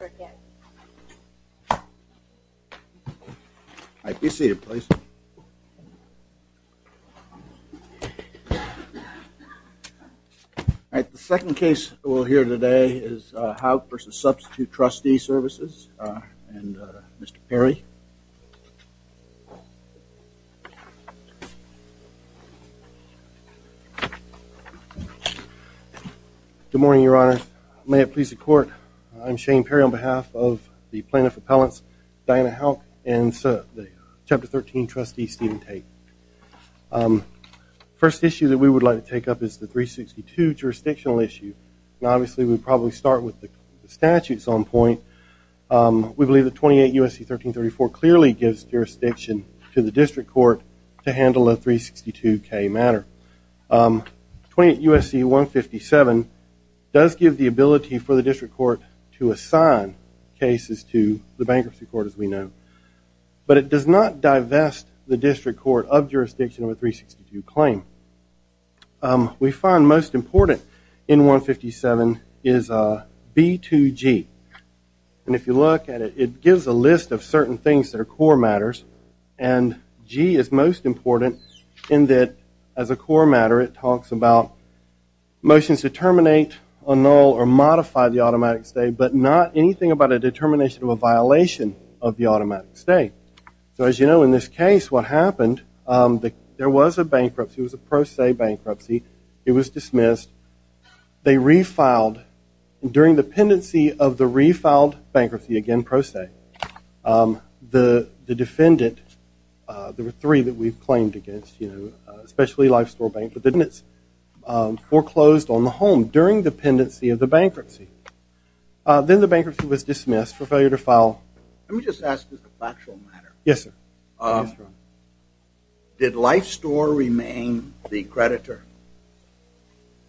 and Mr. Perry. Good morning, your honor. May it please the court, I'm Shane Perry. I'm behalf of the plaintiff appellants Diana Houck and the chapter 13 trustee Stephen Tate. First issue that we would like to take up is the 362 jurisdictional issue and obviously we probably start with the statutes on point. We believe the 28 USC 1334 clearly gives jurisdiction to the district court to handle a 362 K matter. 28 USC 157 does give the ability for the district court to assign cases to the bankruptcy court as we know, but it does not divest the district court of jurisdiction of a 362 claim. We find most important in 157 is B2G and if you look at it, it gives a list of certain things that are core matters and G is most important in that as a core matter it talks about motions to terminate a null or modify the automatic stay but not anything about a determination of a violation of the automatic stay. So as you know in this case what happened, there was a bankruptcy, it was a pro se bankruptcy, it was dismissed, they refiled during the pendency of the refiled bankruptcy, again pro se, the defendant, there were three that we've claimed against you know especially Lifestore Bank, but then it's foreclosed on the home during the pendency of the bankruptcy. Then the bankruptcy was dismissed for failure to file. Let me just ask you a factual matter. Yes sir. Did Lifestore remain the creditor?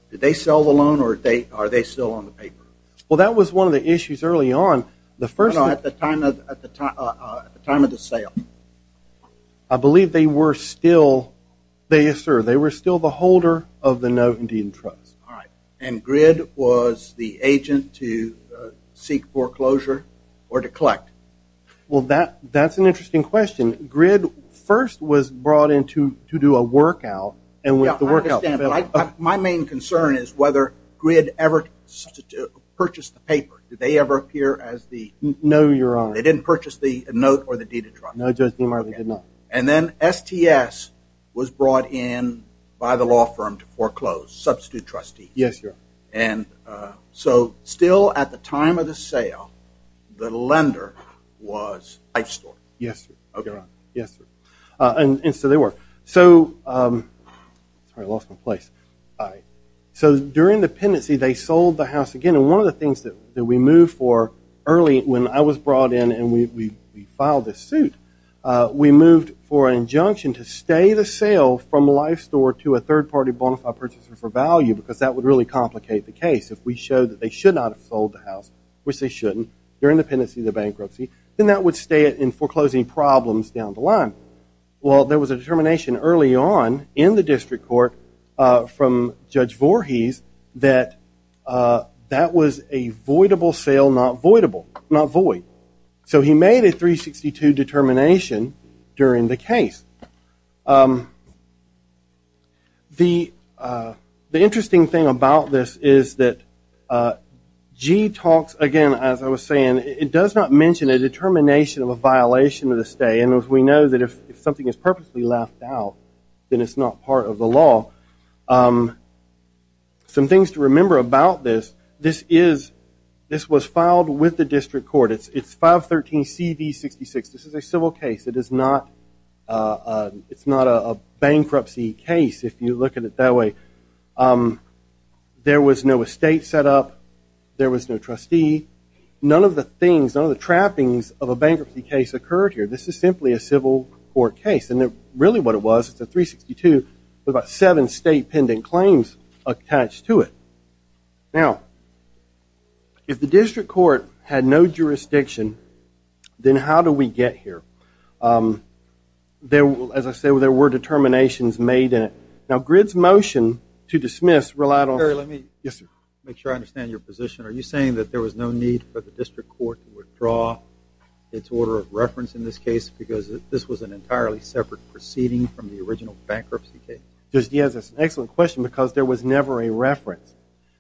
Did they sell the loan or are they still on the paper? Well that was one of the issues early on. At the time of the sale? I believe they were still, yes sir, they were still the holder of the note and deed in trust. All right and Grid was the agent to seek foreclosure or to collect? Well that that's an interesting question. Grid first was brought in to to do a workout and with the workout. My main concern is whether Grid ever purchased the paper. Did they ever appear as the? No your honor. They didn't purchase the note or the deed in trust? No Judge Dean Marley did not. And then STS was brought in by the law firm to foreclose, substitute trustee? Yes your honor. And so still at the time of the sale, the lender was Lifestore? Yes sir. Okay. Yes sir. And so they were. So I lost my place. All right. So during the pendency they sold the house again and one of the things that we moved for early when I was brought in and we filed this suit, we moved for an injunction to stay the sale from Lifestore to a third-party bonafide purchaser for value because that would really complicate the case. If we showed that they should not have sold the house, which they shouldn't, during the pendency of the bankruptcy, then that would stay it in foreclosing problems down the line. Well there was a determination early on in the district court from Judge Voorhees that that was a voidable sale not voidable, not void. So he made a 362 determination during the case. The interesting thing about this is that G talks again, as I was saying, it does not mention a determination of a violation of the stay and as we know that if something is purposely left out then it's not part of the law. Some things to remember about this, this is, this was filed with the district court. It's 513 CV 66. This is a civil case. It is not a bankruptcy case if you look at it that way. There was no estate set up. There was no trustee. None of the things, none of the trappings of a bankruptcy case occurred here. This is simply a civil court case and really what it was, it's a 362 with about seven state pending claims attached to it. Now if the district court had no jurisdiction, then how do we get here? There will, as I said, there were determinations made in it. Now GRID's motion to dismiss relied on, let me make sure I understand your position. Are you saying that there was no need for the district court to withdraw its order of reference in this case because this was an entirely separate proceeding from the original bankruptcy case? Yes, that's an excellent question because there was never a reference.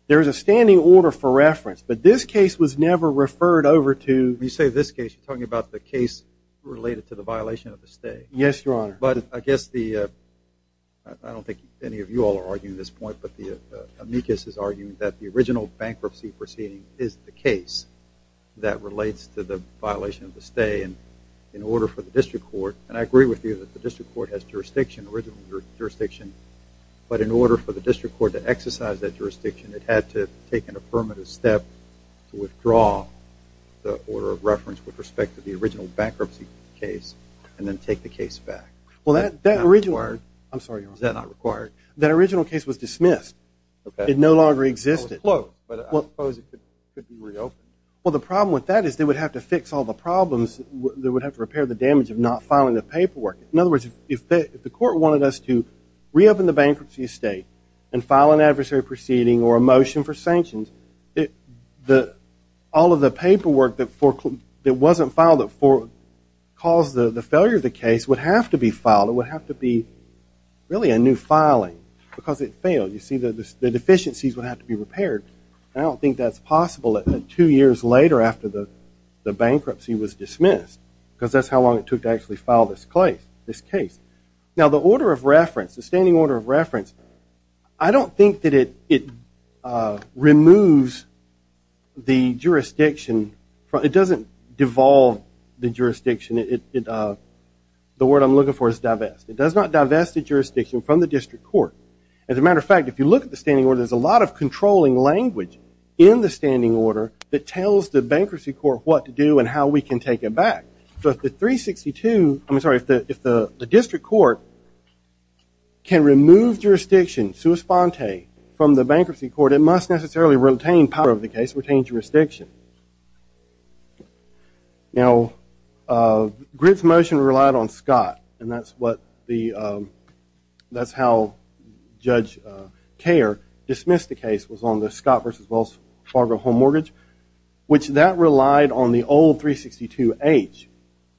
There is a standing order for reference but this case was never referred over to... When you say this case, you're talking about the case related to the violation of the stay. Yes, your honor. But I guess the, I don't think any of you all are arguing this point, but the amicus is arguing that the original bankruptcy proceeding is the case that relates to the violation of the stay and in order for the district court, and I agree with you that the district court has jurisdiction, original jurisdiction, but in order for the district court to exercise that jurisdiction, it had to take an affirmative step to withdraw the order of reference with respect to the original bankruptcy case and then take the case back. Well that original, I'm sorry, is that not required? That no longer existed. Well the problem with that is they would have to fix all the problems. They would have to repair the damage of not filing the paperwork. In other words, if the court wanted us to reopen the bankruptcy estate and file an adversary proceeding or a motion for sanctions, all of the paperwork that wasn't filed that caused the failure of the case would have to be filed. It would have to be really a new filing because it failed. You see the deficiencies would have to be repaired. I don't think that's possible that two years later after the bankruptcy was dismissed because that's how long it took to actually file this case. Now the order of reference, the standing order of reference, I don't think that it removes the jurisdiction. It doesn't devolve the jurisdiction. The word I'm looking for is divest. It does not divest the jurisdiction from the district court. As a matter of fact, if you look at the standing order, there's a lot of controlling language in the standing order that tells the bankruptcy court what to do and how we can take it back. So if the 362, I'm sorry, if the district court can remove jurisdiction, sua sponte, from the bankruptcy court, it must necessarily retain power of the case, retain jurisdiction. Now Gritt's motion relied on Scott and that's what the, that's how Judge Kerr dismissed the case was on the Scott versus Wells Fargo home mortgage, which that relied on the old 362H.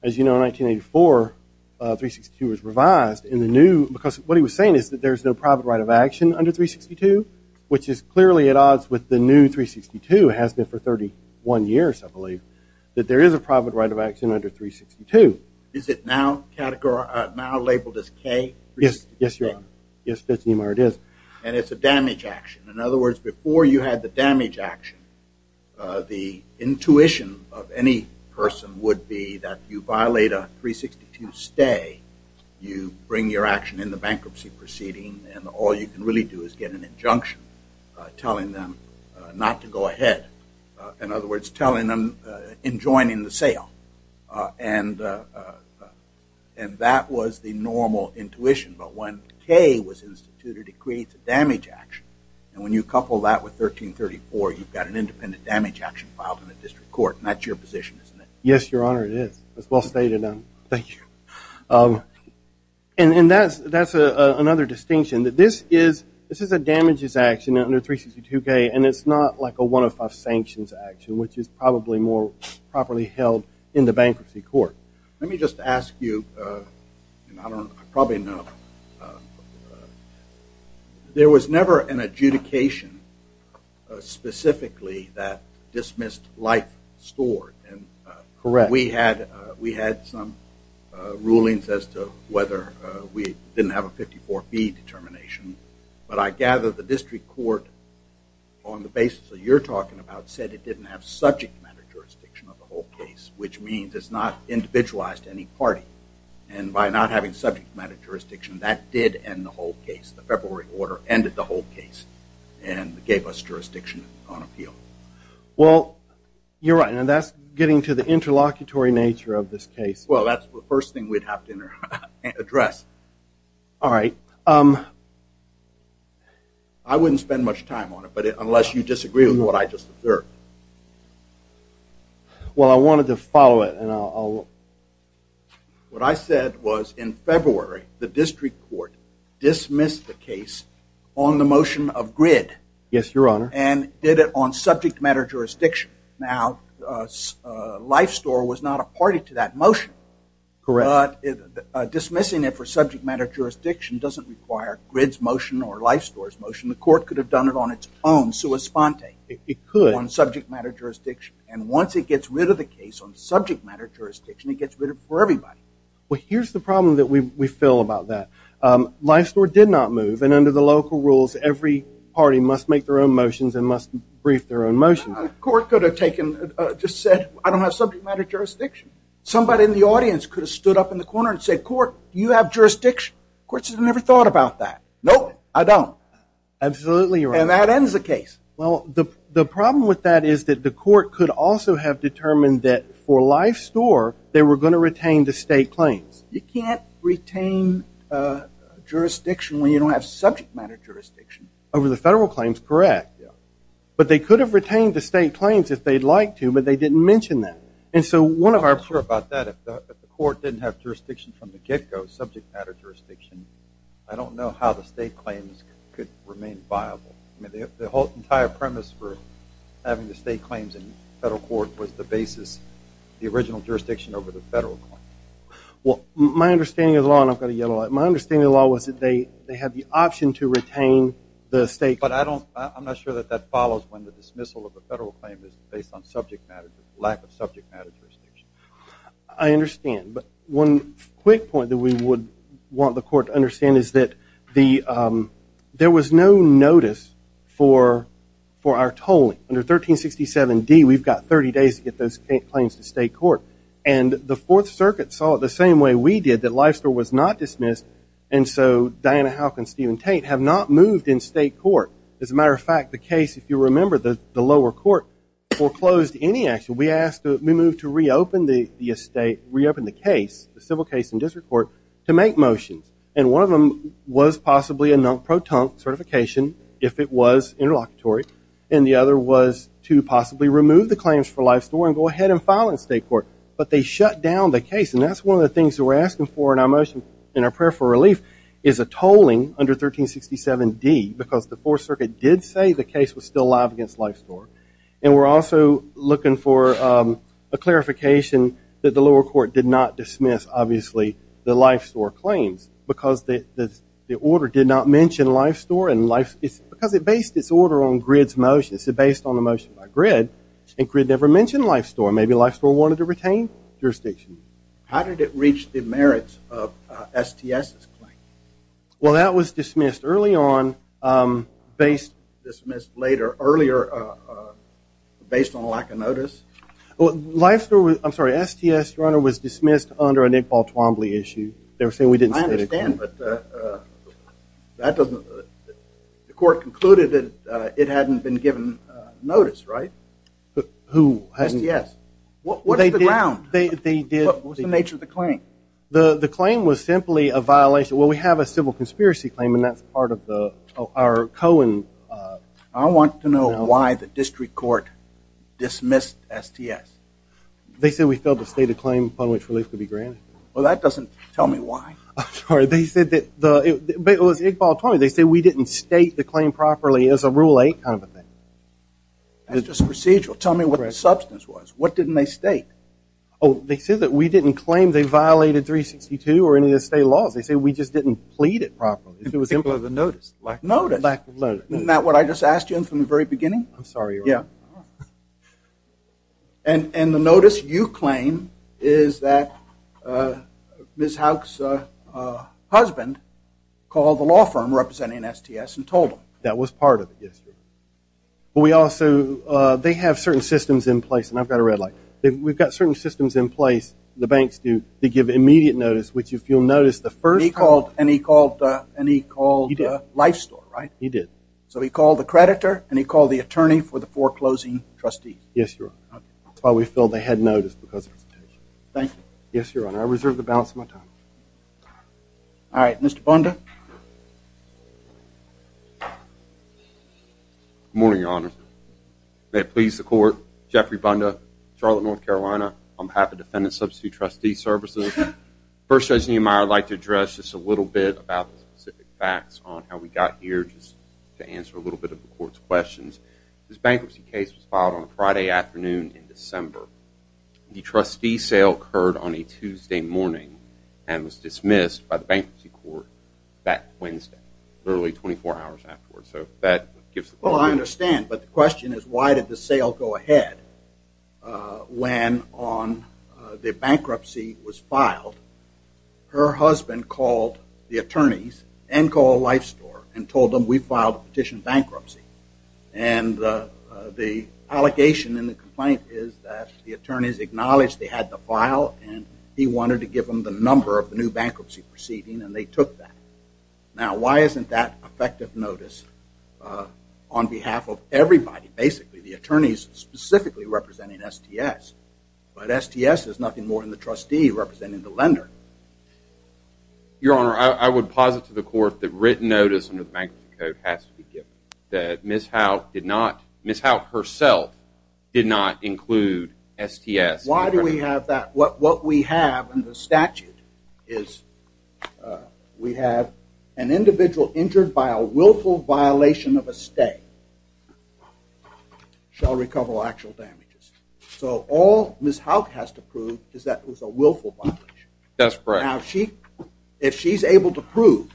As you know in 1984, 362 was revised in the new, because what he was saying is that there's no private right of action under 362, which is clearly at odds with the new 362, has been for 31 years I believe, that there is a private right of action under 362. Is it now categorized, now labeled as K? Yes, yes, your honor. Yes, it is. And it's a damage action. In other words, before you had the damage action, the intuition of any person would be that you violate a 362 stay, you bring your action in the bankruptcy proceeding, and all you can really do is get an injunction telling them not to go ahead. In other words, telling them, enjoining the sale. And, and that was the normal intuition, but when K was instituted, it creates a damage action. And when you couple that with 1334, you've got an independent damage action filed in the district court. And that's your position, isn't it? Yes, your honor, it is. It's well stated. Thank you. And, and that's, that's another distinction, that this is, this is a damages action under 362K, and it's not like a 105 sanctions action, which is probably more properly held in the bankruptcy court. Let me just ask you, and I don't, I probably know, there was never an adjudication specifically that dismissed life stored. Correct. We had, we had some rulings as to whether we didn't have a district court on the basis that you're talking about, said it didn't have subject matter jurisdiction of the whole case, which means it's not individualized to any party. And by not having subject matter jurisdiction, that did end the whole case. The February order ended the whole case and gave us jurisdiction on appeal. Well, you're right, and that's getting to the interlocutory nature of this case. Well, that's the first thing we'd have to address. All right. I wouldn't spend much time on it, but unless you disagree with what I just observed. Well, I wanted to follow it, and I'll, what I said was in February, the district court dismissed the case on the motion of grid. Yes, your honor. And did it on subject matter jurisdiction. Now, life store was not a party to that motion. Correct. But dismissing it for subject matter jurisdiction doesn't require grids motion or life stores motion. The court could have done it on its own, sua sponte. It could. On subject matter jurisdiction. And once it gets rid of the case on subject matter jurisdiction, it gets rid of it for everybody. Well, here's the problem that we feel about that. Life store did not move, and under the local rules, every party must make their own motions and must brief their own motion. A court could have taken, just said, I don't have subject matter jurisdiction. Somebody in the audience could have stood up in the corner and said, court, you have jurisdiction. The court should have never thought about that. Nope, I don't. Absolutely, your honor. And that ends the case. Well, the problem with that is that the court could also have determined that for life store, they were going to retain the state claims. You can't retain jurisdiction when you don't have subject matter jurisdiction. Over the federal claims, correct. But they could have retained the state claims if they'd liked to, but they didn't mention that. I'm not sure about that. If the court didn't have jurisdiction from the get-go, subject matter jurisdiction, I don't know how the state claims could remain viable. The entire premise for having the state claims in federal court was the basis, the original jurisdiction over the federal claim. Well, my understanding of the law, and I'm going to yell a lot, my understanding of the law was that they had the option to retain the state claims. But I'm not sure that that follows when the dismissal of a federal claim is based on subject matter, lack of subject matter jurisdiction. I understand, but one quick point that we would want the court to understand is that the, there was no notice for our tolling. Under 1367 D, we've got 30 days to get those claims to state court. And the Fourth Circuit saw it the same way we did, that life store was not dismissed. And so Diana Houck and Stephen Tate have not moved in state court. As a matter of fact, the case, if you remember, the lower court foreclosed any action. We asked, we moved to reopen the estate, reopen the case, the civil case in district court, to make motions. And one of them was possibly a non-proton certification, if it was interlocutory. And the other was to possibly remove the claims for life store and go ahead and file in state court. But they shut down the case, and that's one of the things that we're asking for in our motion, in our prayer for relief, is a tolling under 1367 D, because the Fourth Circuit did say the case was still live against life store. And we're also looking for a clarification that the lower court did not dismiss, obviously, the life store claims. Because the order did not mention life store and life, it's because it based its order on Grid's motion. It's based on the motion by Grid, and Grid never mentioned life store. Maybe life store wanted to retain jurisdiction. How did it reach the merits of STS's claim? Well, that was dismissed early on, based, dismissed later, earlier, based on lack of notice. Well, life store was, I'm sorry, STS runner was dismissed under a Nick Paul Twombly issue. They were saying we didn't. I understand, but that doesn't, the court concluded that it hadn't been given notice, right? Who? STS. What was the ground? What's the nature of the claim? The claim was simply a violation. Well, we have a civil conspiracy claim, and that's part of the, our Cohen. I want to know why the district court dismissed STS. They said we failed to state a claim upon which relief could be granted. Well, that doesn't tell me why. I'm sorry, they said that, but it was Nick Paul Twombly. They said we didn't state the claim properly. It was a rule 8 kind of thing. It's just procedural. Tell me what the substance was. What didn't they state? Oh, they said that we didn't claim they violated 362 or any of the state laws. They say we just didn't plead it properly. It was simply the notice. Lack of notice. Lack of notice. Isn't that what I just asked you from the very beginning? I'm sorry. Yeah. And, and the notice you claim is that Ms. Houck's husband called the law firm representing STS and told them. That was part of it, yes. But we also, they have certain systems in place, and I've got a red light. We've got certain systems in place, the banks do, to give immediate notice, which if you'll notice the first. He called, and he called, and he called Life Store, right? He did. So he called the creditor, and he called the attorney for the foreclosing trustees. Yes, your honor. That's why we feel they had notice because of the presentation. Thank you. Yes, your honor. Good morning, your honor. May it please the court. Jeffrey Bunda, Charlotte, North Carolina. I'm happy to defend and substitute trustee services. First Judge Nehemiah, I'd like to address just a little bit about the specific facts on how we got here, just to answer a little bit of the court's questions. This bankruptcy case was filed on a Friday afternoon in December. The trustee sale occurred on a that Wednesday, literally 24 hours afterwards. So that gives... Well, I understand, but the question is why did the sale go ahead when on the bankruptcy was filed? Her husband called the attorneys and called Life Store and told them we filed a petition bankruptcy, and the allegation in the complaint is that the attorneys acknowledged they had the file, and he wanted to give them the Now, why isn't that effective notice on behalf of everybody? Basically, the attorneys specifically representing STS, but STS is nothing more than the trustee representing the lender. Your honor, I would posit to the court the written notice under the Bankruptcy Code has to be given, that Ms. Howe did not... Ms. Howe herself did not include STS. Why do we have that? What we have in the statute is we have an individual injured by a willful violation of a stay shall recover all actual damages. So all Ms. Howe has to prove is that it was a willful violation. That's correct. Now, if she's able to prove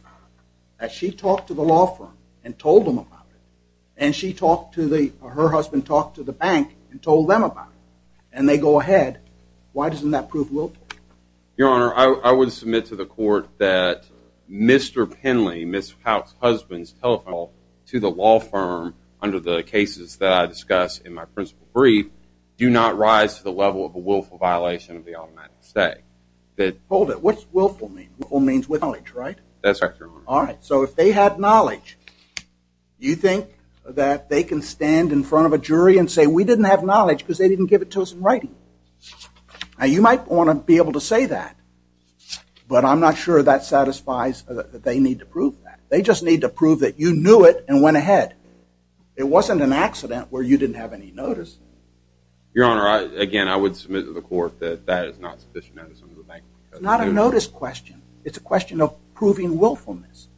that she talked to the law firm and told them about it, and she talked to the... her husband talked to the bank and told them about it, and they go ahead, why doesn't that prove willful? Your honor, I would submit to the court that Mr. Penley, Ms. Howe's husband's telephone call to the law firm under the cases that I discuss in my principle brief do not rise to the level of a willful violation of the automatic stay. Hold it. What's willful mean? Willful means with knowledge, right? That's correct, your honor. Alright, so if they had knowledge, you think that they can stand in front of a jury and say we didn't have knowledge because they didn't give it to us in writing. Now, you might want to be able to say that, but I'm not sure that satisfies that they need to prove that. They just need to prove that you knew it and went ahead. It wasn't an accident where you didn't have any notice. Your honor, again, I would submit to the court that that is not sufficient. It's not a notice question. It's a question of proving willfulness.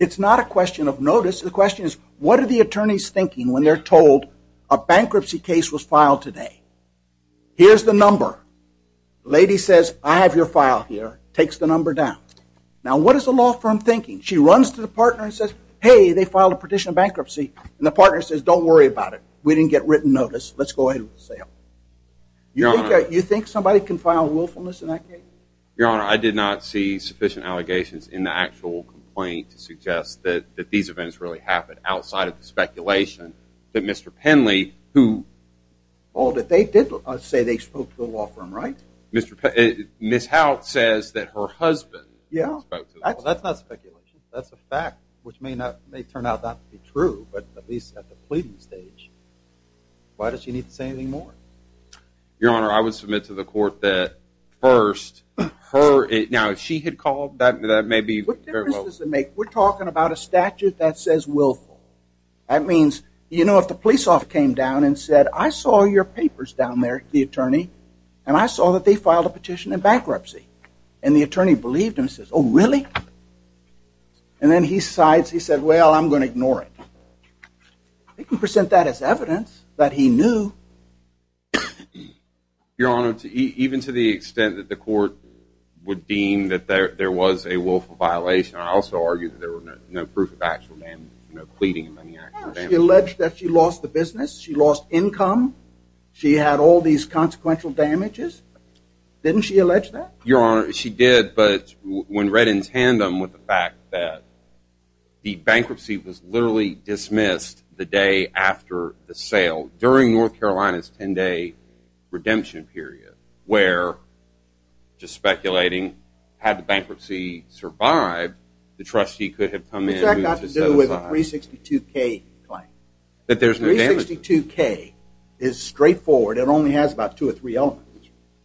It's not a question of notice. The question is what are the attorneys thinking when they're told a bankruptcy case was filed today? Here's the number. The lady says, I have your file here, takes the number down. Now, what is the law firm thinking? She runs to the partner and says, hey, they filed a petition of bankruptcy, and the partner says, don't worry about it. We didn't get written notice. Let's go ahead with the sale. Your honor, you think somebody can file willfulness in that case? Your honor, I did not see sufficient allegations in the actual complaint to suggest that these events really happened outside of the law firm, right? Ms. Hout says that her husband spoke to the law firm. That's not speculation. That's a fact, which may turn out not to be true, but at least at the pleading stage. Why does she need to say anything more? Your honor, I would submit to the court that first, her, now if she had called, that may be. What difference does it make? We're talking about a statute that says willful. That means, you know, if the police officer came down and said, I saw your and I saw that they filed a petition of bankruptcy, and the attorney believed and says, oh really? And then he sides, he said, well, I'm going to ignore it. They can present that as evidence that he knew. Your honor, even to the extent that the court would deem that there was a willful violation, I also argue that there were no proof of actual damage, no pleading of any actual damage. She alleged that she lost the damages? Didn't she allege that? Your honor, she did, but when read in tandem with the fact that the bankruptcy was literally dismissed the day after the sale, during North Carolina's 10-day redemption period, where, just speculating, had the bankruptcy survived, the trustee could have come in and moved to the other side. It's got to do with the 362K claim. That there's no damages. 362K is straightforward. It only has about two or three elements.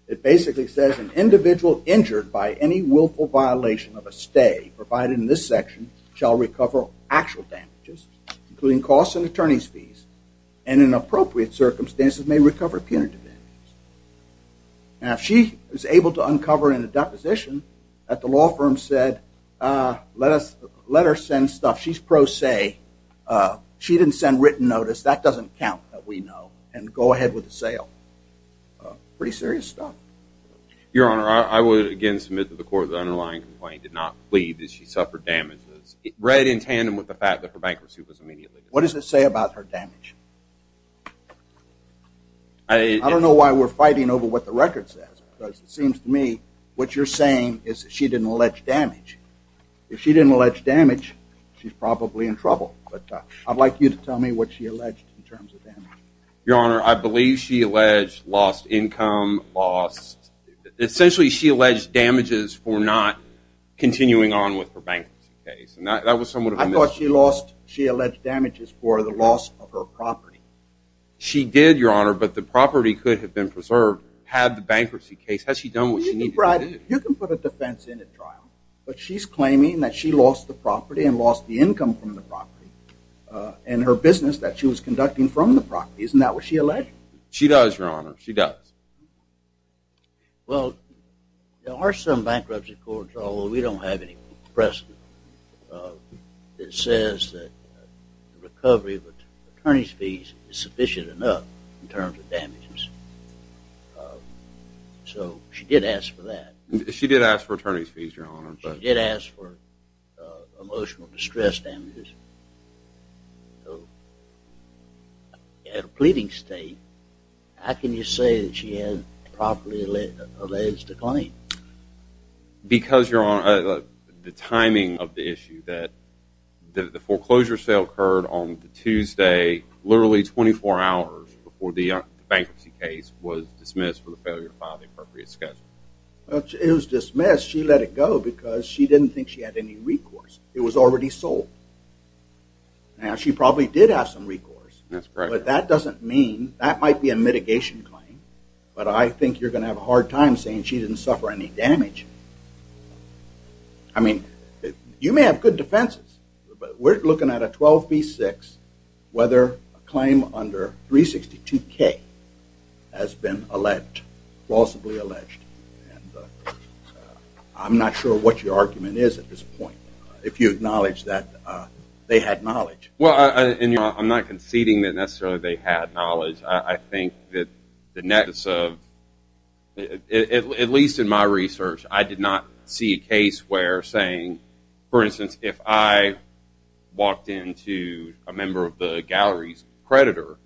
It basically says an individual injured by any willful violation of a stay, provided in this section, shall recover actual damages, including costs and attorney's fees, and in appropriate circumstances may recover punitive damages. Now, if she was able to uncover in a deposition that the law firm said, let us, let her send stuff, she's pro se, she didn't send written notice, that doesn't count that we know, and go ahead with the sale. Pretty serious stuff. Your honor, I would again submit to the court the underlying complaint did not plead that she suffered damages. Read in tandem with the fact that her bankruptcy was immediately dismissed. What does it say about her damage? I don't know why we're fighting over what the record says, but it seems to me what you're saying is she didn't allege damage. If she didn't allege damage, she's probably in trouble, but I'd like you to tell me what she alleged in terms of damage. Your honor, I believe she alleged lost income, lost, essentially she alleged damages for not continuing on with her bankruptcy case, and that was somewhat of a misrepresentation. I thought she lost, she alleged damages for the loss of her property. She did, your honor, but the property could have been preserved had the bankruptcy case, had she done what she needed to do. You can put a defense in at trial, but she's lost the income from the property, and her business that she was conducting from the property, isn't that what she alleged? She does, your honor, she does. Well, there are some bankruptcy courts, although we don't have any precedent, that says that the recovery of attorney's fees is sufficient enough in terms of damages. So she did ask for that. She did ask for attorney's fees, your honor. She did ask for emotional distress damages. At a pleading state, how can you say that she had properly alleged a claim? Because, your honor, the timing of the issue that the foreclosure sale occurred on Tuesday, literally 24 hours before the bankruptcy case was dismissed for the failure to file the appropriate schedule. Well, it was dismissed, she let it go because she didn't think she had any recourse. It was already sold. Now, she probably did have some recourse. That's correct. But that doesn't mean, that might be a mitigation claim, but I think you're gonna have a hard time saying she didn't suffer any damage. I mean, you may have good defenses, but we're looking at a 12 v. 6, whether a claim under 362 K has been alleged, plausibly alleged. I'm not sure what your argument is at this point, if you acknowledge that they had knowledge. Well, I'm not conceding that necessarily they had knowledge. I think that the nexus of, at least in my research, I did not see a case where saying, for instance, if I walked into a member of the gallery's creditor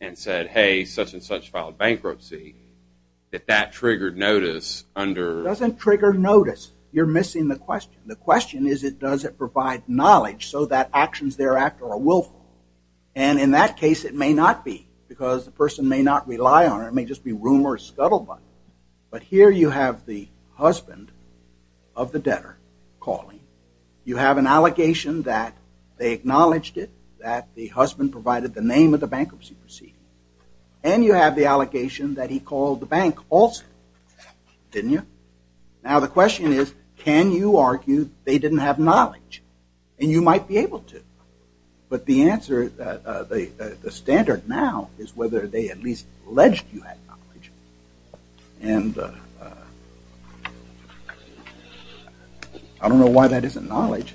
and said, hey, such-and-such filed bankruptcy, that that triggered notice under... Doesn't trigger notice. You're missing the question. The question is, does it provide knowledge so that actions thereafter are willful? And in that case, it may not be, because the person may not rely on it. It may just be rumors scuttled by. But here you have the husband of the debtor calling. You have an allegation that they acknowledged it, that the husband provided the name of the bankruptcy proceeding. And you have the allegation that he called the bank also, didn't you? Now the question is, can you argue they didn't have knowledge? And you might be able to. But the answer, the standard now, is whether they at least alleged you had knowledge. And I don't know why that isn't knowledge.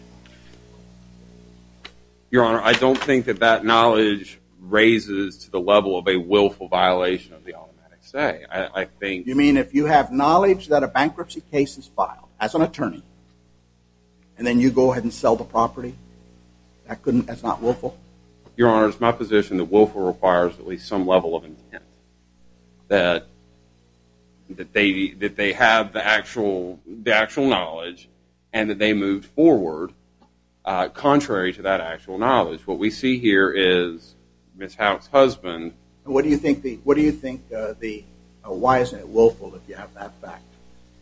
Your Honor, I don't think that that knowledge raises to the level of a willful violation of the automatic say. I think... You mean if you have knowledge that a bankruptcy case is filed, as an attorney, and then you go ahead and sell the property, that couldn't, that's not willful? Your Honor, it's my position that willful requires at least some level of intent. That, that they, that they have the actual, the actual knowledge, and that they moved forward contrary to that actual knowledge. What we see here is Ms. Howe's husband... What do you think the, what do you think the, why isn't it willful if you have that fact?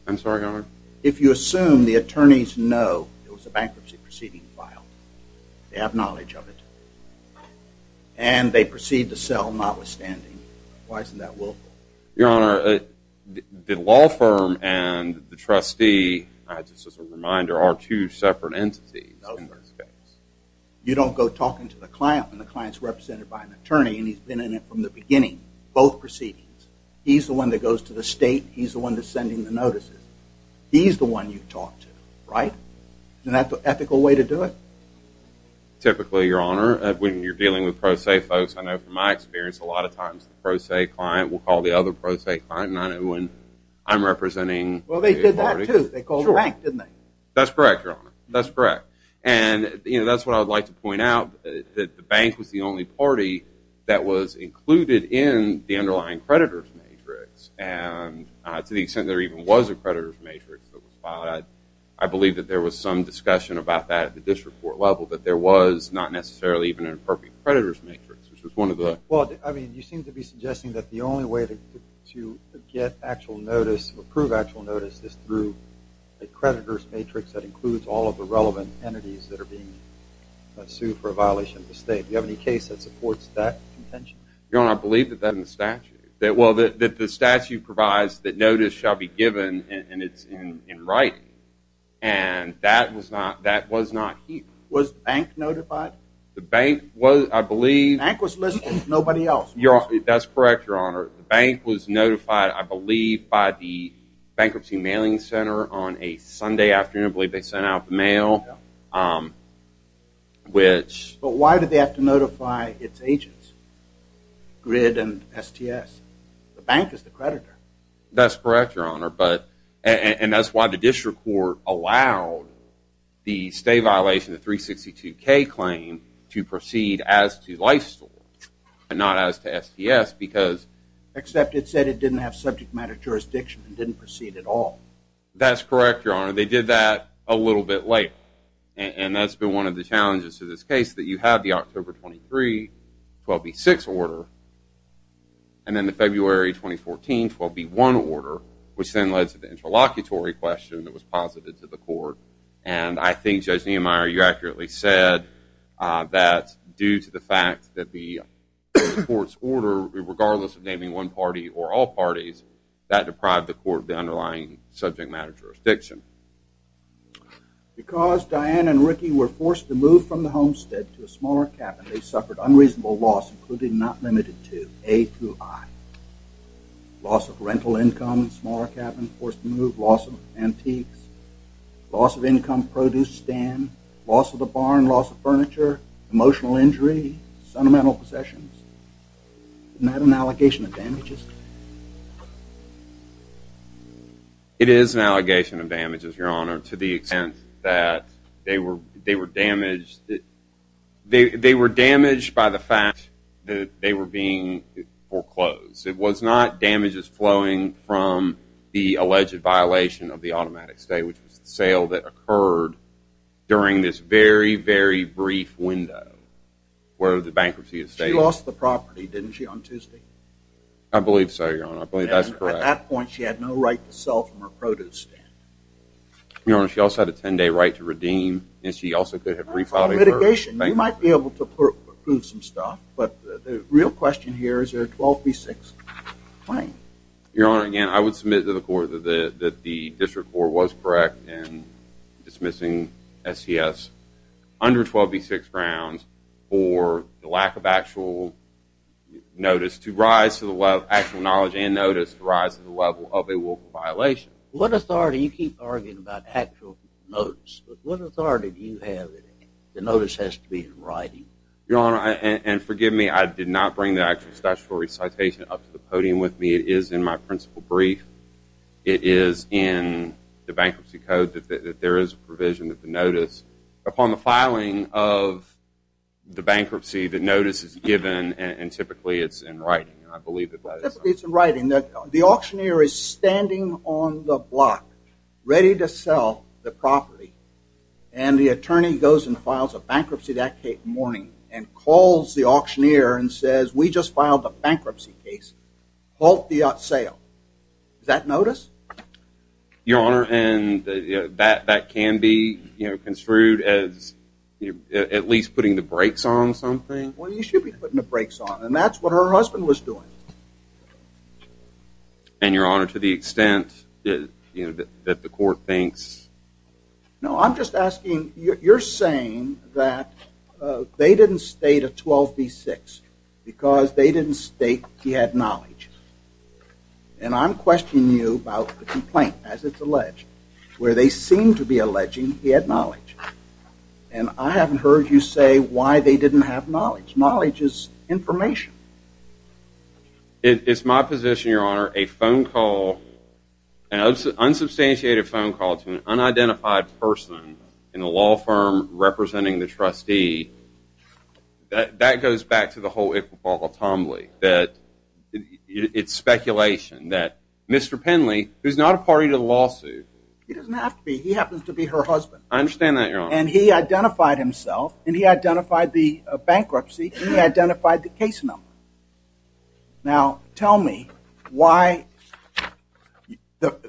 I'm sorry, Your Honor? If you assume the attorneys know it was a bankruptcy proceeding file, they have knowledge of it, and they proceed to sell notwithstanding, why isn't that willful? Your Honor, the law firm and the trustee, just as a reminder, are two separate entities. You don't go talking to the client when the client's represented by an attorney, and he's been in it from the beginning, both proceedings. He's the one that goes to the state, he's the one that's sending the notices. He's the one you talk to, right? Isn't that the ethical way to do it? Typically, Your Honor, when you're dealing with pro se folks, I know from my experience, a lot of times the pro se client will call the other pro se client, and I know when I'm representing... That's correct, Your Honor. That's correct. And, you know, that's what I would like to point out, that the bank was the only party that was included in the underlying creditor's matrix, and to the extent there even was a creditor's matrix that was filed, I believe that there was some discussion about that at the district court level, that there was not necessarily even an appropriate creditor's matrix, which was one of the... Well, I mean, you seem to be suggesting that the only way to get actual notice, to approve actual notice, is through a creditor's matrix that includes all of the relevant entities that are being sued for a violation of the state. Do you have any case that supports that intention? Your Honor, I believe that that in the statute. That, well, that the statute provides that notice shall be given, and it's in writing, and that was not, that was not here. Was the bank notified? The bank was, I believe... The bank was listening, nobody else. Your Honor, that's correct, Your Honor. I believe by the Bankruptcy Mailing Center on a Sunday afternoon, I believe they sent out the mail, which... But why did they have to notify its agents, GRID and STS? The bank is the creditor. That's correct, Your Honor, but, and that's why the district court allowed the state violation of the 362k claim to proceed as to life-storage, and not as to jurisdiction, and didn't proceed at all. That's correct, Your Honor. They did that a little bit late, and that's been one of the challenges to this case, that you have the October 23, 12B6 order, and then the February 2014, 12B1 order, which then led to the interlocutory question that was posited to the court, and I think, Judge Niemeyer, you accurately said that due to the fact that the court's one party or all parties, that deprived the court of the underlying subject matter jurisdiction. Because Diane and Ricky were forced to move from the homestead to a smaller cabin, they suffered unreasonable loss, including not limited to A through I. Loss of rental income, smaller cabin, forced to move, loss of antiques, loss of income, produce stand, loss of the barn, loss of furniture, emotional injury, sentimental possessions. Isn't that an allegation of damages? It is an allegation of damages, Your Honor, to the extent that they were damaged, they were damaged by the fact that they were being foreclosed. It was not damages flowing from the alleged violation of the automatic stay, which very, very brief window where the bankruptcy is stable. She lost the property, didn't she, on Tuesday? I believe so, Your Honor, I believe that's correct. At that point, she had no right to sell from her produce stand. Your Honor, she also had a 10-day right to redeem, and she also could have refiled a claim. Mitigation. You might be able to prove some stuff, but the real question here is there a 12B6 claim? Your Honor, again, I would submit to the court that the under 12B6 grounds for the lack of actual notice to rise to the level of actual knowledge and notice to rise to the level of a willful violation. What authority, you keep arguing about actual notice, but what authority do you have that the notice has to be in writing? Your Honor, and forgive me, I did not bring the actual statutory citation up to the podium with me. It is in my principal brief. It is in the bankruptcy code that there is a provision that the notice upon the filing of the bankruptcy, the notice is given, and typically it's in writing, and I believe that that is so. Typically it's in writing. The auctioneer is standing on the block, ready to sell the property, and the attorney goes and files a bankruptcy that morning and calls the auctioneer and says, we just filed a bankruptcy case, halt the sale. Is that notice? Your Honor, and that can be construed as at least putting the brakes on something? Well, you should be putting the brakes on, and that's what her husband was doing. And Your Honor, to the extent that the court thinks? No, I'm just asking, you're saying that they didn't state a 12B6 because they didn't state he had knowledge, and I'm And I haven't heard you say why they didn't have knowledge. Knowledge is information. It's my position, Your Honor, a phone call, an unsubstantiated phone call to an unidentified person in a law firm representing the trustee, that goes back to the whole Iqbal-Tombly, that it's speculation, that Mr. Penley, who's not a party to the lawsuit. He doesn't have to be, he happens to be her husband. And he identified himself, and he identified the bankruptcy, and he identified the case number. Now, tell me why,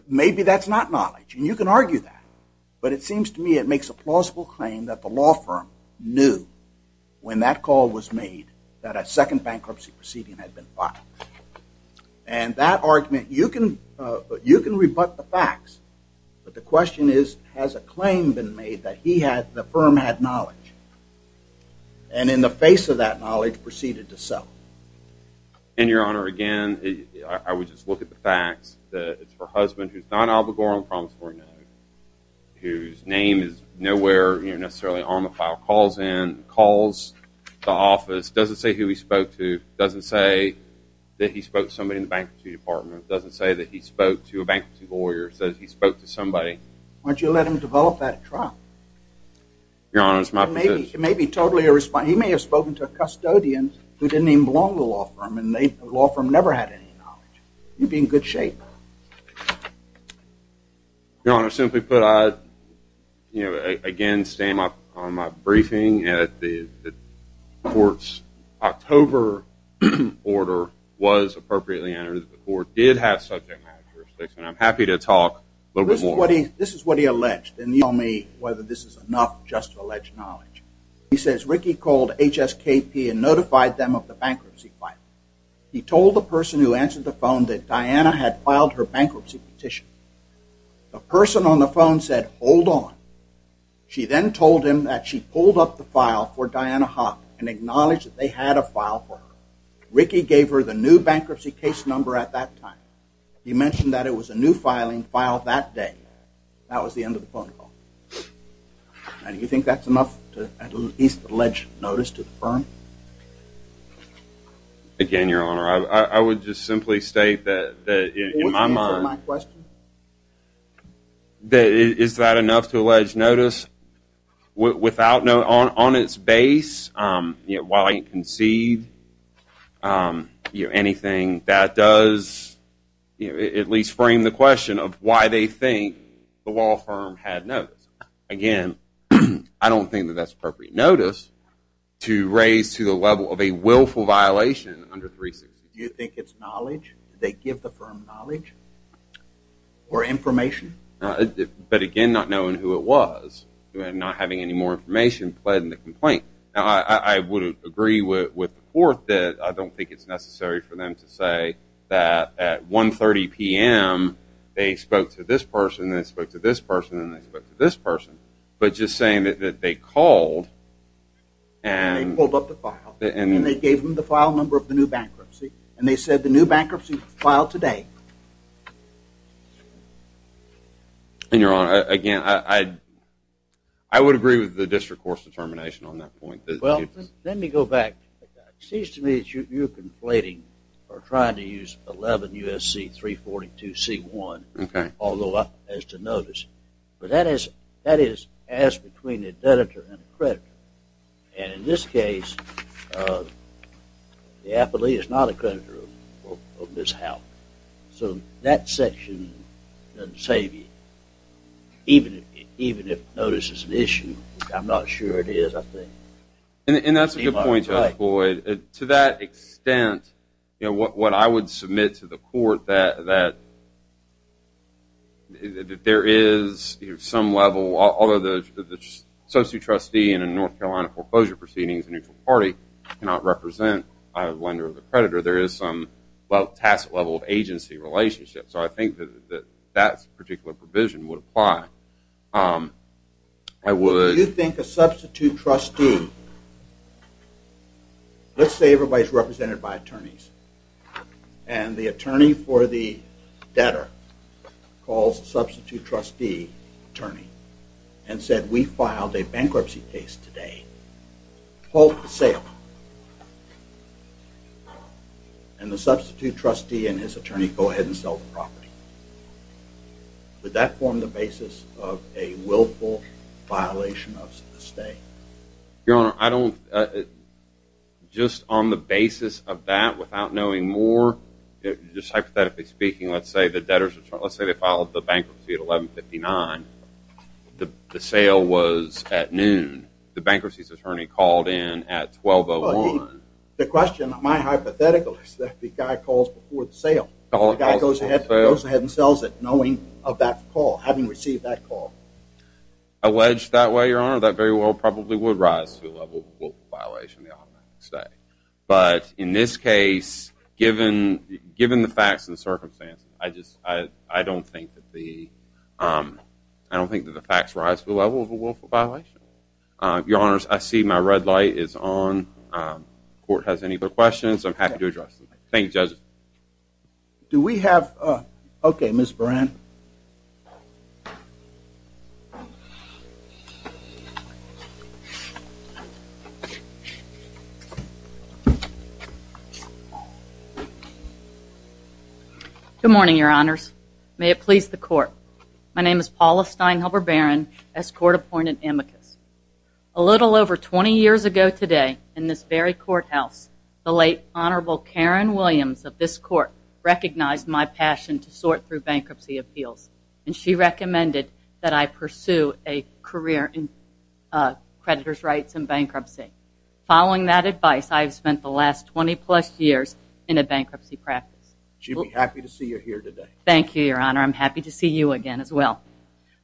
maybe that's not knowledge, and you can argue that, but it seems to me it makes a plausible claim that the law firm knew when that call was made that a second bankruptcy proceeding had been filed. And that argument, you can rebut the facts, but the question is, has a claim been made that he had, the firm had knowledge? And in the face of that knowledge, proceeded to sell. And, Your Honor, again, I would just look at the facts, that it's her husband, who's not Alba Gore on the promissory note, whose name is nowhere necessarily on the file, calls in, calls the office, doesn't say who he spoke to, doesn't say that he spoke to somebody in the bankruptcy department, doesn't say that he spoke to a bankruptcy lawyer, says he spoke to somebody. Why don't you let him develop that trial? Your Honor, it's my position. He may have spoken to a custodian who didn't even belong to the law firm, and the law firm never had any knowledge. He'd be in good shape. Your Honor, simply put, I, you know, again, stand on my briefing, that the court's October order was appropriately entered, that the court did have subject matter jurisdiction, and I'm happy to talk a little bit more. This is what he alleged, and you'll tell me whether this is enough just to allege knowledge. He says, Ricky called HSKP and notified them of the bankruptcy filing. He told the person who answered the phone that Diana had filed her bankruptcy petition. The person on the phone said, hold on. She then told him that she pulled up the file for Diana Hopp and acknowledged that they had a file for her. Ricky gave her the new bankruptcy case number at that time. He mentioned that it was a new filing filed that day. That was the end of the phone call. Now, do you think that's enough to at least allege notice to the firm? Again, Your Honor, I would just simply state that, in my mind, Would you answer my question? Is that enough to allege notice? On its base, while I didn't concede anything, that does at least frame the question of why they think the law firm had notice. Again, I don't think that that's appropriate notice to raise to the level of a willful violation under 360. Do you think it's knowledge? Did they give the firm knowledge? Or information? But, again, not knowing who it was. Not having any more information played in the complaint. I would agree with the court that I don't think it's necessary for them to say that at 1.30 p.m. they spoke to this person and they spoke to this person and they spoke to this person. But just saying that they called and And they pulled up the file. And they gave them the file number of the new bankruptcy. And they said the new bankruptcy was filed today. And, Your Honor, again, I would agree with the district court's determination on that point. Well, let me go back. It seems to me that you're conflating or trying to use 11 U.S.C. 342 C.1. Okay. Although, as to notice. But that is as between a debtor and a creditor. And, in this case, the affilee is not a creditor of this house. So, that section doesn't save you. Even if notice is an issue. I'm not sure it is, I think. And that's a good point, Judge Boyd. To that extent, what I would submit to the court that There is some level. Although the associate trustee in a North Carolina foreclosure proceeding is a neutral party. Cannot represent a lender or a creditor. There is some level of agency relationship. So, I think that that particular provision would apply. I would. You think a substitute trustee. Let's say everybody is represented by attorneys. And the attorney for the debtor calls the substitute trustee attorney. And said, we filed a bankruptcy case today. Halt the sale. And the substitute trustee and his attorney go ahead and sell the property. Would that form the basis of a willful violation of the estate? Your Honor, I don't. Just on the basis of that, without knowing more. Just hypothetically speaking, let's say the debtors. Let's say they filed the bankruptcy at 1159. The sale was at noon. The bankruptcy's attorney called in at 1201. The question, my hypothetical is that the guy calls before the sale. The guy goes ahead and sells it, knowing of that call. Having received that call. Alleged that way, Your Honor. That very well probably would rise to the level of a willful violation of the estate. But in this case, given the facts and circumstances, I don't think that the facts rise to the level of a willful violation. Your Honors, I see my red light is on. Court has any other questions. I'm happy to address them. Thank you, Judge. Do we have? OK, Ms. Buran. Good morning, Your Honors. May it please the court. My name is Paula Steinhelber Buran, as court-appointed amicus. A little over 20 years ago today, in this very courthouse, the late Honorable Karen Williams of this court recognized my passion to sort through bankruptcy appeals. And she recommended that I pursue a career in creditor's rights in bankruptcy. Following that advice, I have spent the last 20 plus years in a bankruptcy practice. She'd be happy to see you here today. Thank you, Your Honor. I'm happy to see you again as well.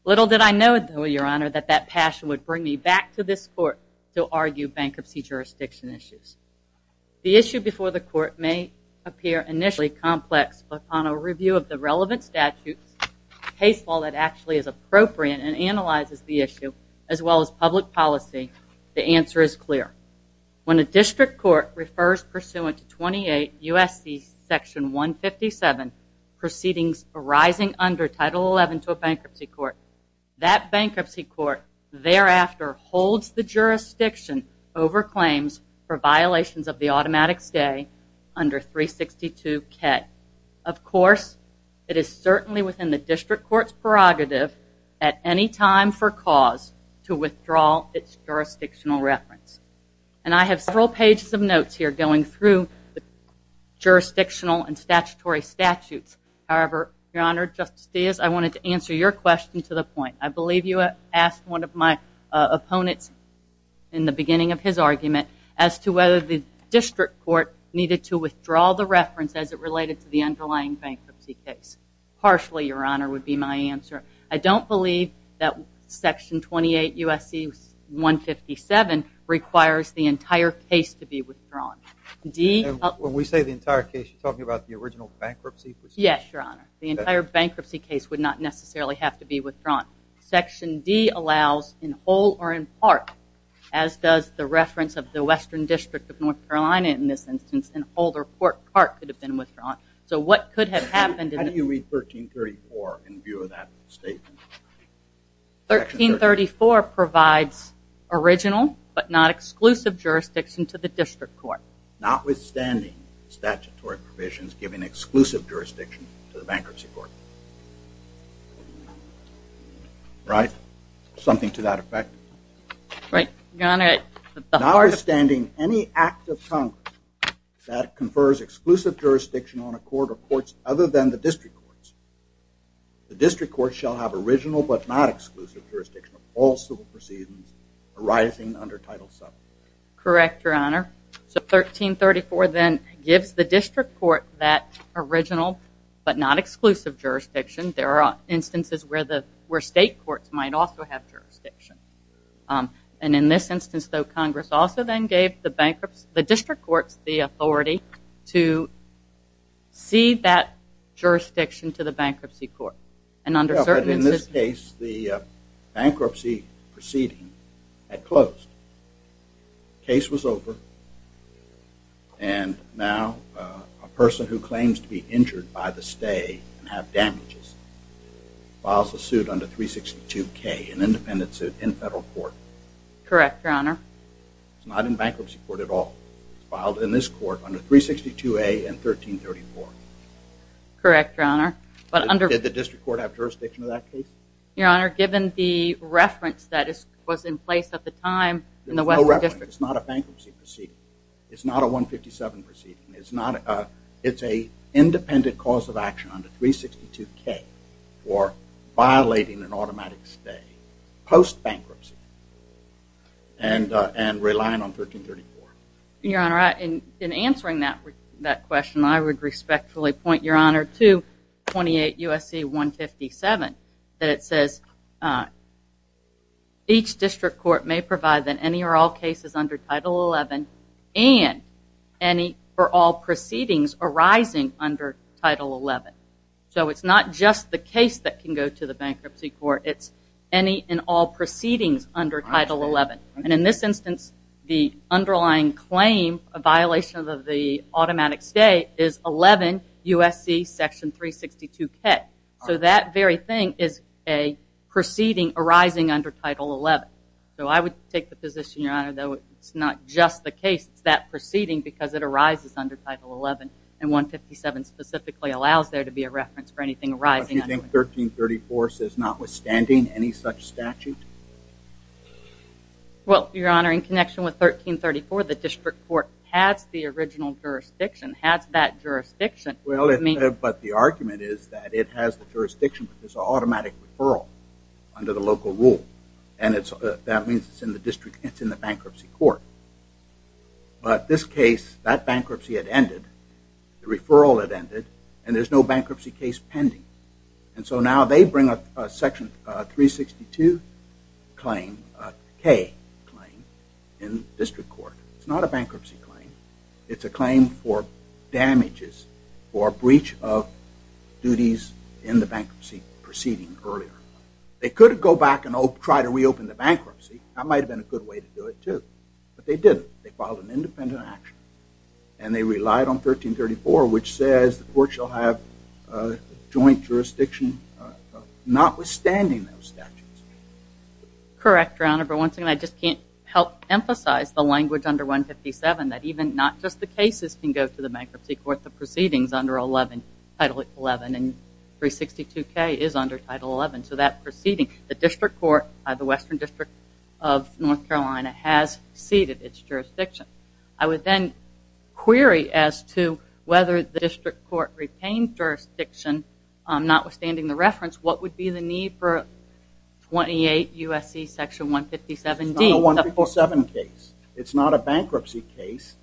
Little did I know, though, Your Honor, that that passion would bring me back to this court to argue bankruptcy jurisdiction issues. The issue before the court may appear initially complex, but upon a review of the relevant statutes, case law that actually is appropriate and analyzes the issue, as well as public policy, the answer is clear. When a district court refers pursuant to 28 U.S.C. Section 157, proceedings arising under Title XI to a bankruptcy court, that bankruptcy court thereafter holds the jurisdiction over claims for violations of the automatic stay under 362K. Of course, it is certainly within the district court's prerogative at any time for cause to withdraw its jurisdictional reference. And I have several pages of notes here going through the jurisdictional and statutory statutes. However, Your Honor, Justice Diaz, I wanted to answer your question to the point. I believe you asked one of my opponents in the beginning of his argument as to whether the district court needed to withdraw the reference as it related to the underlying bankruptcy case. Partially, Your Honor, would be my answer. I don't believe that Section 28 U.S.C. 157 requires the entire case to be withdrawn. When we say the entire case, you're talking about the original bankruptcy? Yes, Your Honor. The entire bankruptcy case would not necessarily have to be withdrawn. Section D allows in whole or in part, as does the reference of the Western District of North Carolina in this instance, in whole or part could have been withdrawn. So what could have happened? How do you read 1334 in view of that statement? 1334 provides original but not exclusive jurisdiction to the district court. Notwithstanding statutory provisions giving exclusive jurisdiction to the bankruptcy court. Right? Something to that effect? Right, Your Honor. Notwithstanding any act of Congress that confers exclusive jurisdiction on a court of courts other than the district courts, the district courts shall have original but not exclusive jurisdiction of all civil proceedings arising under Title VII. Correct, Your Honor. So 1334 then gives the district court that original but not exclusive jurisdiction. There are instances where state courts might also have jurisdiction. And in this instance, though, Congress also then gave the district courts the authority to cede that jurisdiction to the bankruptcy court. Case was over. And now a person who claims to be injured by the stay and have damages files a suit under 362K, an independent suit in federal court. Correct, Your Honor. It's not in bankruptcy court at all. It's filed in this court under 362A and 1334. Correct, Your Honor. Did the district court have jurisdiction to that case? Your Honor, given the reference that was in place at the time in the Western District. There's no reference. It's not a bankruptcy proceeding. It's not a 157 proceeding. It's a independent cause of action under 362K for violating an automatic stay post-bankruptcy and relying on 1334. Your Honor, in answering that question, I would respectfully point, Your Honor, to 28 U.S.C. 157 that it says each district court may provide in any or all cases under Title 11 and any or all proceedings arising under Title 11. So it's not just the case that can go to the bankruptcy court. It's any and all proceedings under Title 11. And in this instance, the underlying claim of violation of the automatic stay is 11 U.S.C. section 362K. So that very thing is a proceeding arising under Title 11. So I would take the position, Your Honor, that it's not just the case. It's that proceeding because it arises under Title 11. And 157 specifically allows there to be a reference for anything arising under it. Do you think 1334 says notwithstanding any such statute? Well, Your Honor, in connection with 1334, the district court has the original jurisdiction, has that jurisdiction. Well, but the argument is that it has the jurisdiction but there's an automatic referral under the local rule. And that means it's in the bankruptcy court. But this case, that bankruptcy had ended, the referral had ended, and there's no bankruptcy case pending. And so now they bring up section 362K claim in district court. It's not a bankruptcy claim. It's a claim for damages or breach of duties in the bankruptcy proceeding earlier. They could go back and try to reopen the bankruptcy. That might have been a good way to do it too. But they didn't. They filed an independent action. And they relied on 1334, which says the court shall have joint jurisdiction notwithstanding those statutes. Correct, Your Honor. But once again, I just can't help emphasize the language under 157 that even not just the cases can go to the bankruptcy court. The proceedings under 11, Title 11, and 362K is under Title 11. So that proceeding, the district court, the Western District of North Carolina has ceded its jurisdiction. I would then query as to whether the district court retained jurisdiction notwithstanding the reference. What would be the need for 28 U.S.C. Section 157D? It's not a 157 case. It's not a bankruptcy case.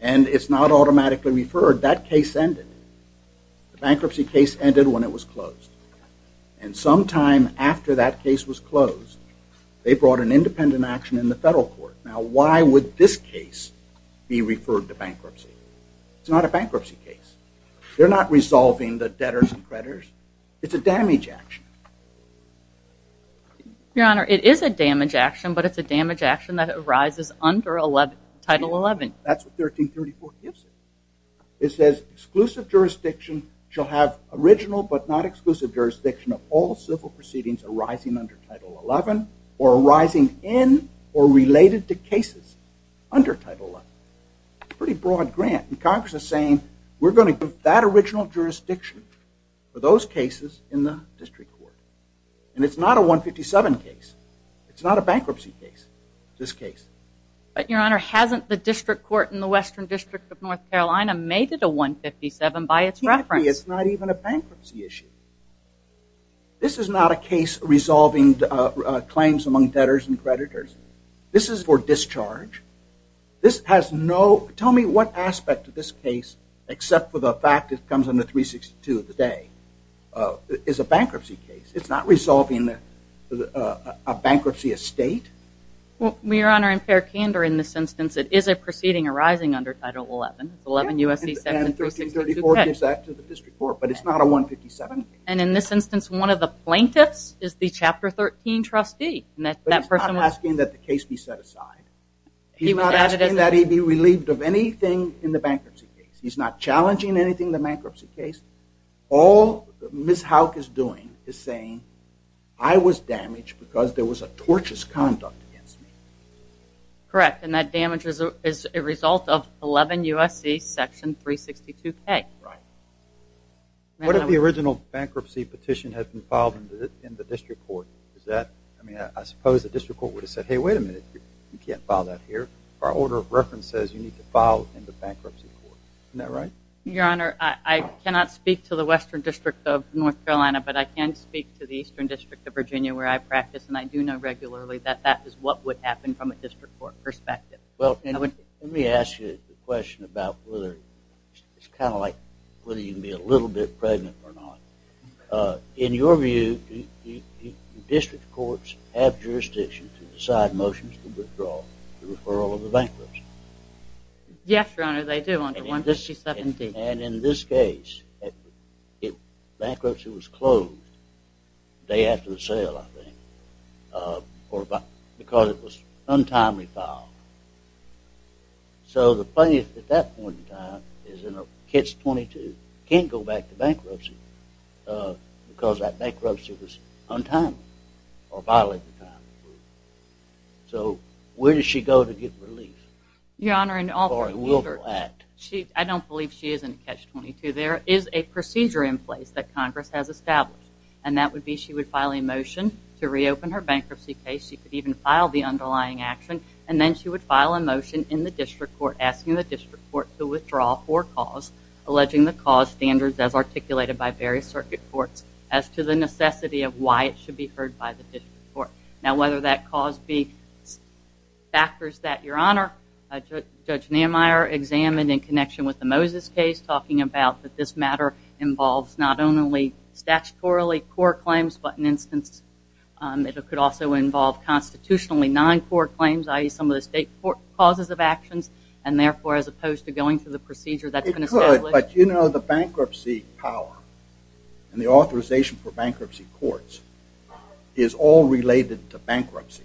And it's not automatically referred. That case ended. The bankruptcy case ended when it was closed. And sometime after that case was closed, they brought an independent action in the federal court. Now, why would this case be referred to bankruptcy? It's not a bankruptcy case. They're not resolving the debtors and creditors. It's a damage action. Your Honor, it is a damage action, but it's a damage action that arises under Title 11. That's what 1334 gives us. It says exclusive jurisdiction shall have original but not exclusive jurisdiction of all civil proceedings arising under Title 11 or arising in or related to cases under Title 11. It's a pretty broad grant. And Congress is saying we're going to give that original jurisdiction for those cases in the district court. And it's not a 157 case. It's not a bankruptcy case, this case. But, Your Honor, hasn't the district court in the Western District of North Carolina made it a 157 by its reference? It's not even a bankruptcy issue. This is not a case resolving claims among debtors and creditors. This is for discharge. This has no – tell me what aspect of this case, except for the fact it comes under 362 of the day, is a bankruptcy case. It's not resolving a bankruptcy estate. Well, Your Honor, in fair candor in this instance, it is a proceeding arising under Title 11. It's 11 U.S.C. 7362K. And 1334 gives that to the district court, but it's not a 157 case. And in this instance, one of the plaintiffs is the Chapter 13 trustee. But he's not asking that the case be set aside. He's not asking that he be relieved of anything in the bankruptcy case. He's not challenging anything in the bankruptcy case. All Ms. Houck is doing is saying, I was damaged because there was a tortious conduct against me. Correct, and that damage is a result of 11 U.S.C. section 362K. Right. What if the original bankruptcy petition had been filed in the district court? Is that – I mean, I suppose the district court would have said, Hey, wait a minute, you can't file that here. Our order of reference says you need to file in the bankruptcy court. Isn't that right? Your Honor, I cannot speak to the Western District of North Carolina, but I can speak to the Eastern District of Virginia, where I practice, and I do know regularly that that is what would happen from a district court perspective. Well, let me ask you a question about whether – it's kind of like whether you can be a little bit pregnant or not. In your view, do district courts have jurisdiction to decide motions for withdrawal for the referral of the bankruptcy? Yes, Your Honor, they do under 157D. And in this case, bankruptcy was closed the day after the sale, I think, because it was untimely filed. So the plaintiff at that point in time is in a catch-22, can't go back to bankruptcy because that bankruptcy was untimely or violated the time. So where does she go to get relief? Your Honor, I don't believe she is in a catch-22. There is a procedure in place that Congress has established, and that would be she would file a motion to reopen her bankruptcy case. She could even file the underlying action, and then she would file a motion in the district court asking the district court to withdraw for cause, alleging the cause standards as articulated by various circuit courts as to the necessity of why it should be heard by the district court. Now, whether that cause be factors that Your Honor, Judge Nehemiah examined in connection with the Moses case, talking about that this matter involves not only statutorily court claims, but in instance it could also involve constitutionally non-court claims, i.e. some of the state court causes of actions, and therefore as opposed to going through the procedure that's been established. It could, but you know the bankruptcy power and the authorization for bankruptcy courts is all related to bankruptcy.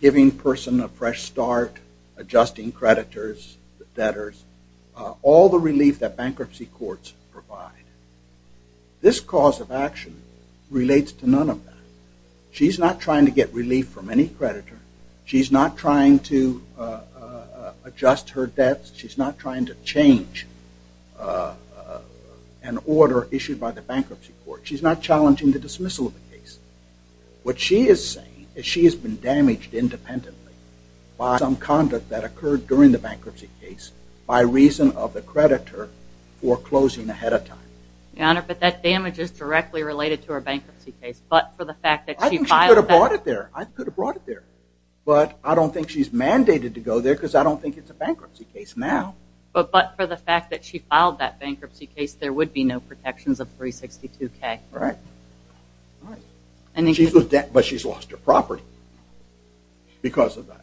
Giving a person a fresh start, adjusting creditors, debtors, all the relief that bankruptcy courts provide. This cause of action relates to none of that. She's not trying to get relief from any creditor. She's not trying to adjust her debts. She's not trying to change an order issued by the bankruptcy court. She's not challenging the dismissal of the case. What she is saying is she has been damaged independently by some conduct that occurred during the bankruptcy case by reason of the creditor foreclosing ahead of time. Your Honor, but that damage is directly related to her bankruptcy case, but for the fact that she filed that... I think she could have brought it there. But I don't think she's mandated to go there because I don't think it's a bankruptcy case now. But for the fact that she filed that bankruptcy case, there would be no protections of 362K. Right. But she's lost her property because of that.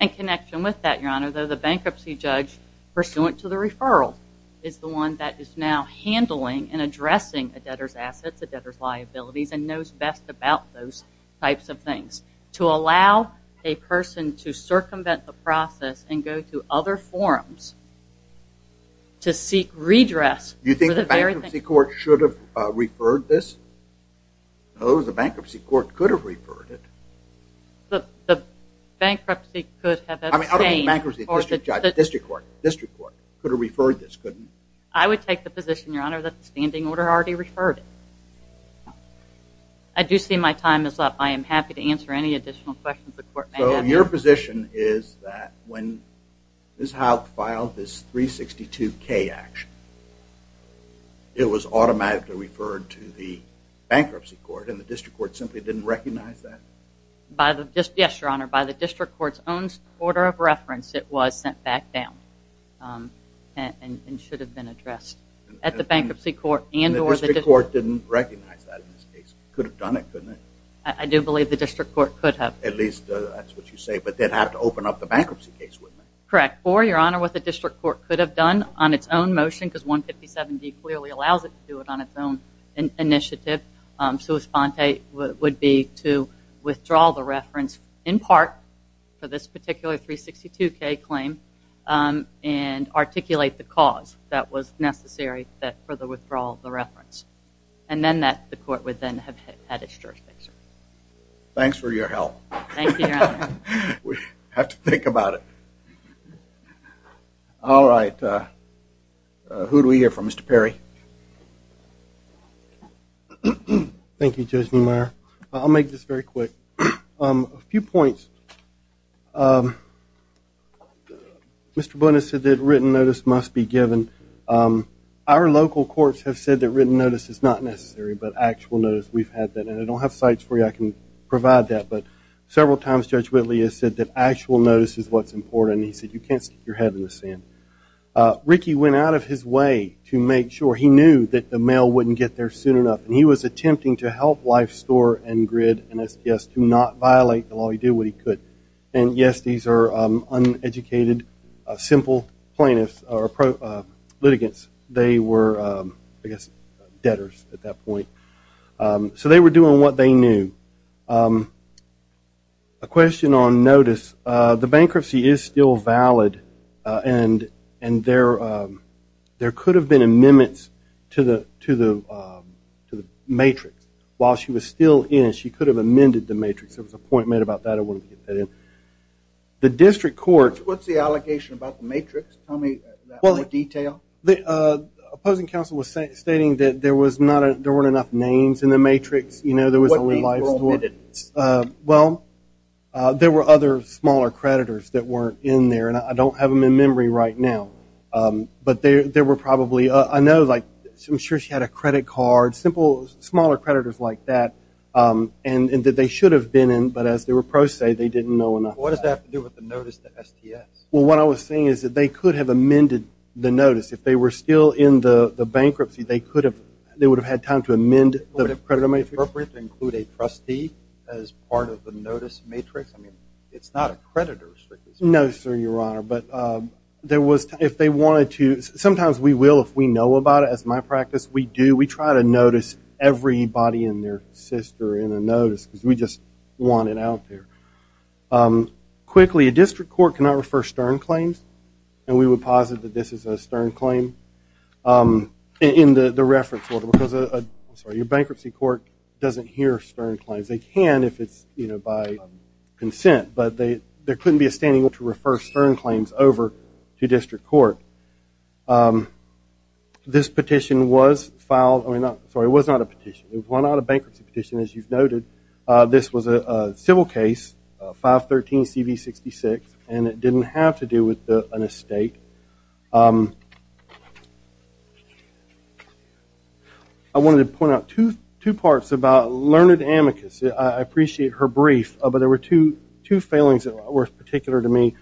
In connection with that, Your Honor, the bankruptcy judge pursuant to the referral is the one that is now handling and addressing a debtor's assets, a debtor's liabilities, and knows best about those types of things. To allow a person to circumvent the process and go to other forums to seek redress... You think the bankruptcy court should have referred this? No, the bankruptcy court could have referred it. The bankruptcy could have abstained... I don't mean bankruptcy, district court. Could have referred this, couldn't it? I would take the position, Your Honor, that the standing order already referred it. I do see my time is up. I am happy to answer any additional questions the court may have. So your position is that when Ms. Howell filed this 362K action, it was automatically referred to the bankruptcy court, and the district court simply didn't recognize that? Yes, Your Honor. By the district court's own order of reference, it was sent back down and should have been addressed at the bankruptcy court and... The district court didn't recognize that in this case. Could have done it, couldn't it? I do believe the district court could have. At least, that's what you say, but they'd have to open up the bankruptcy case, wouldn't they? Correct. Or, Your Honor, what the district court could have done on its own motion, because 157D clearly allows it to do it on its own initiative, sua sponte would be to withdraw the reference, in part for this particular 362K claim, and articulate the cause that was necessary for the withdrawal of the reference. And then the court would then have had its jurisdiction. Thanks for your help. Thank you, Your Honor. We have to think about it. All right. Who do we hear from? Mr. Perry? Thank you, Judge Neumeier. I'll make this very quick. A few points. Mr. Buenos said that written notice must be given. Our local courts have said that written notice is not necessary, but actual notice, we've had that. And I don't have sites where I can provide that, but several times Judge Whitley has said that actual notice is what's important, and he said you can't stick your head in the sand. Ricky went out of his way to make sure he knew that the mail wouldn't get there soon enough, and he was attempting to help Life Store and Grid and SPS to not violate the law. He did what he could. And, yes, these are uneducated, simple plaintiffs or litigants. They were, I guess, debtors at that point. So they were doing what they knew. A question on notice. The bankruptcy is still valid, and there could have been amendments to the matrix. While she was still in, she could have amended the matrix. There was a point made about that. I wanted to get that in. The district court. What's the allegation about the matrix? Tell me that in more detail. The opposing counsel was stating that there weren't enough names in the matrix. What names were omitted? Well, there were other smaller creditors that weren't in there, and I don't have them in memory right now. But there were probably, I know, like, I'm sure she had a credit card, smaller creditors like that, and that they should have been in, but as the reproach say, they didn't know enough. What does that have to do with the notice to STS? Well, what I was saying is that they could have amended the notice. If they were still in the bankruptcy, they would have had time to amend the creditor matrix. Would it be appropriate to include a trustee as part of the notice matrix? I mean, it's not a creditor restriction. No, sir, Your Honor. But there was, if they wanted to, sometimes we will if we know about it. As my practice, we do. We try to notice everybody and their sister in a notice because we just want it out there. Quickly, a district court cannot refer stern claims, and we would posit that this is a stern claim in the reference order because your bankruptcy court doesn't hear stern claims. They can if it's by consent, but there couldn't be a standing order to refer stern claims over to district court. This petition was filed, I mean, sorry, it was not a petition. It was not a bankruptcy petition, as you've noted. This was a civil case, 513CV66, and it didn't have to do with an estate. I wanted to point out two parts about Learned Amicus. I appreciate her brief, but there were two failings that were particular to me.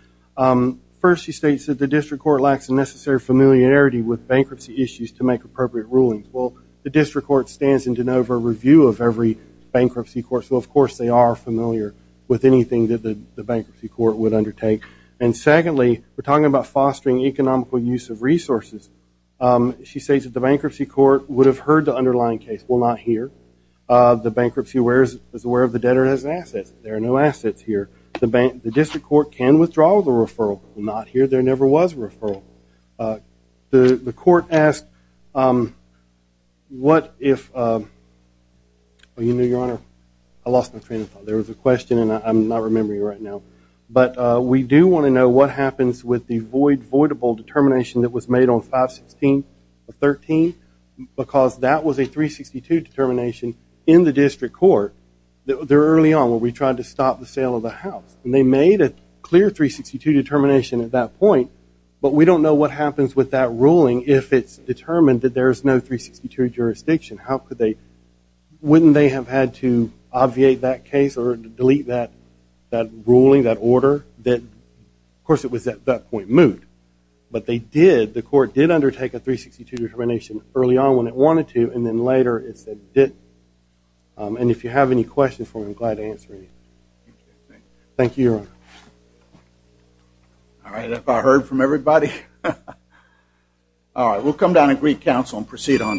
First, she states that the district court lacks a necessary familiarity with bankruptcy issues to make appropriate rulings. Well, the district court stands in de novo review of every bankruptcy court, so of course they are familiar with anything that the bankruptcy court would undertake. And secondly, we're talking about fostering economical use of resources. She states that the bankruptcy court would have heard the underlying case. Well, not here. The bankruptcy is aware of the debtor as an asset. There are no assets here. The district court can withdraw the referral, but not here. There never was a referral. The court asked what if, well, you know, Your Honor, I lost my train of thought. There was a question, and I'm not remembering it right now. But we do want to know what happens with the voidable determination that was made on 513, because that was a 362 determination in the district court. Early on, when we tried to stop the sale of the house, and they made a clear 362 determination at that point, but we don't know what happens with that ruling if it's determined that there's no 362 jurisdiction. How could they? Wouldn't they have had to obviate that case or delete that ruling, that order? Of course, it was at that point moved, but they did. The court did undertake a 362 determination early on when it wanted to, and then later it said it didn't. And if you have any questions for me, I'm glad to answer any. Thank you, Your Honor. All right, have I heard from everybody? All right, we'll come down and greet counsel and proceed on.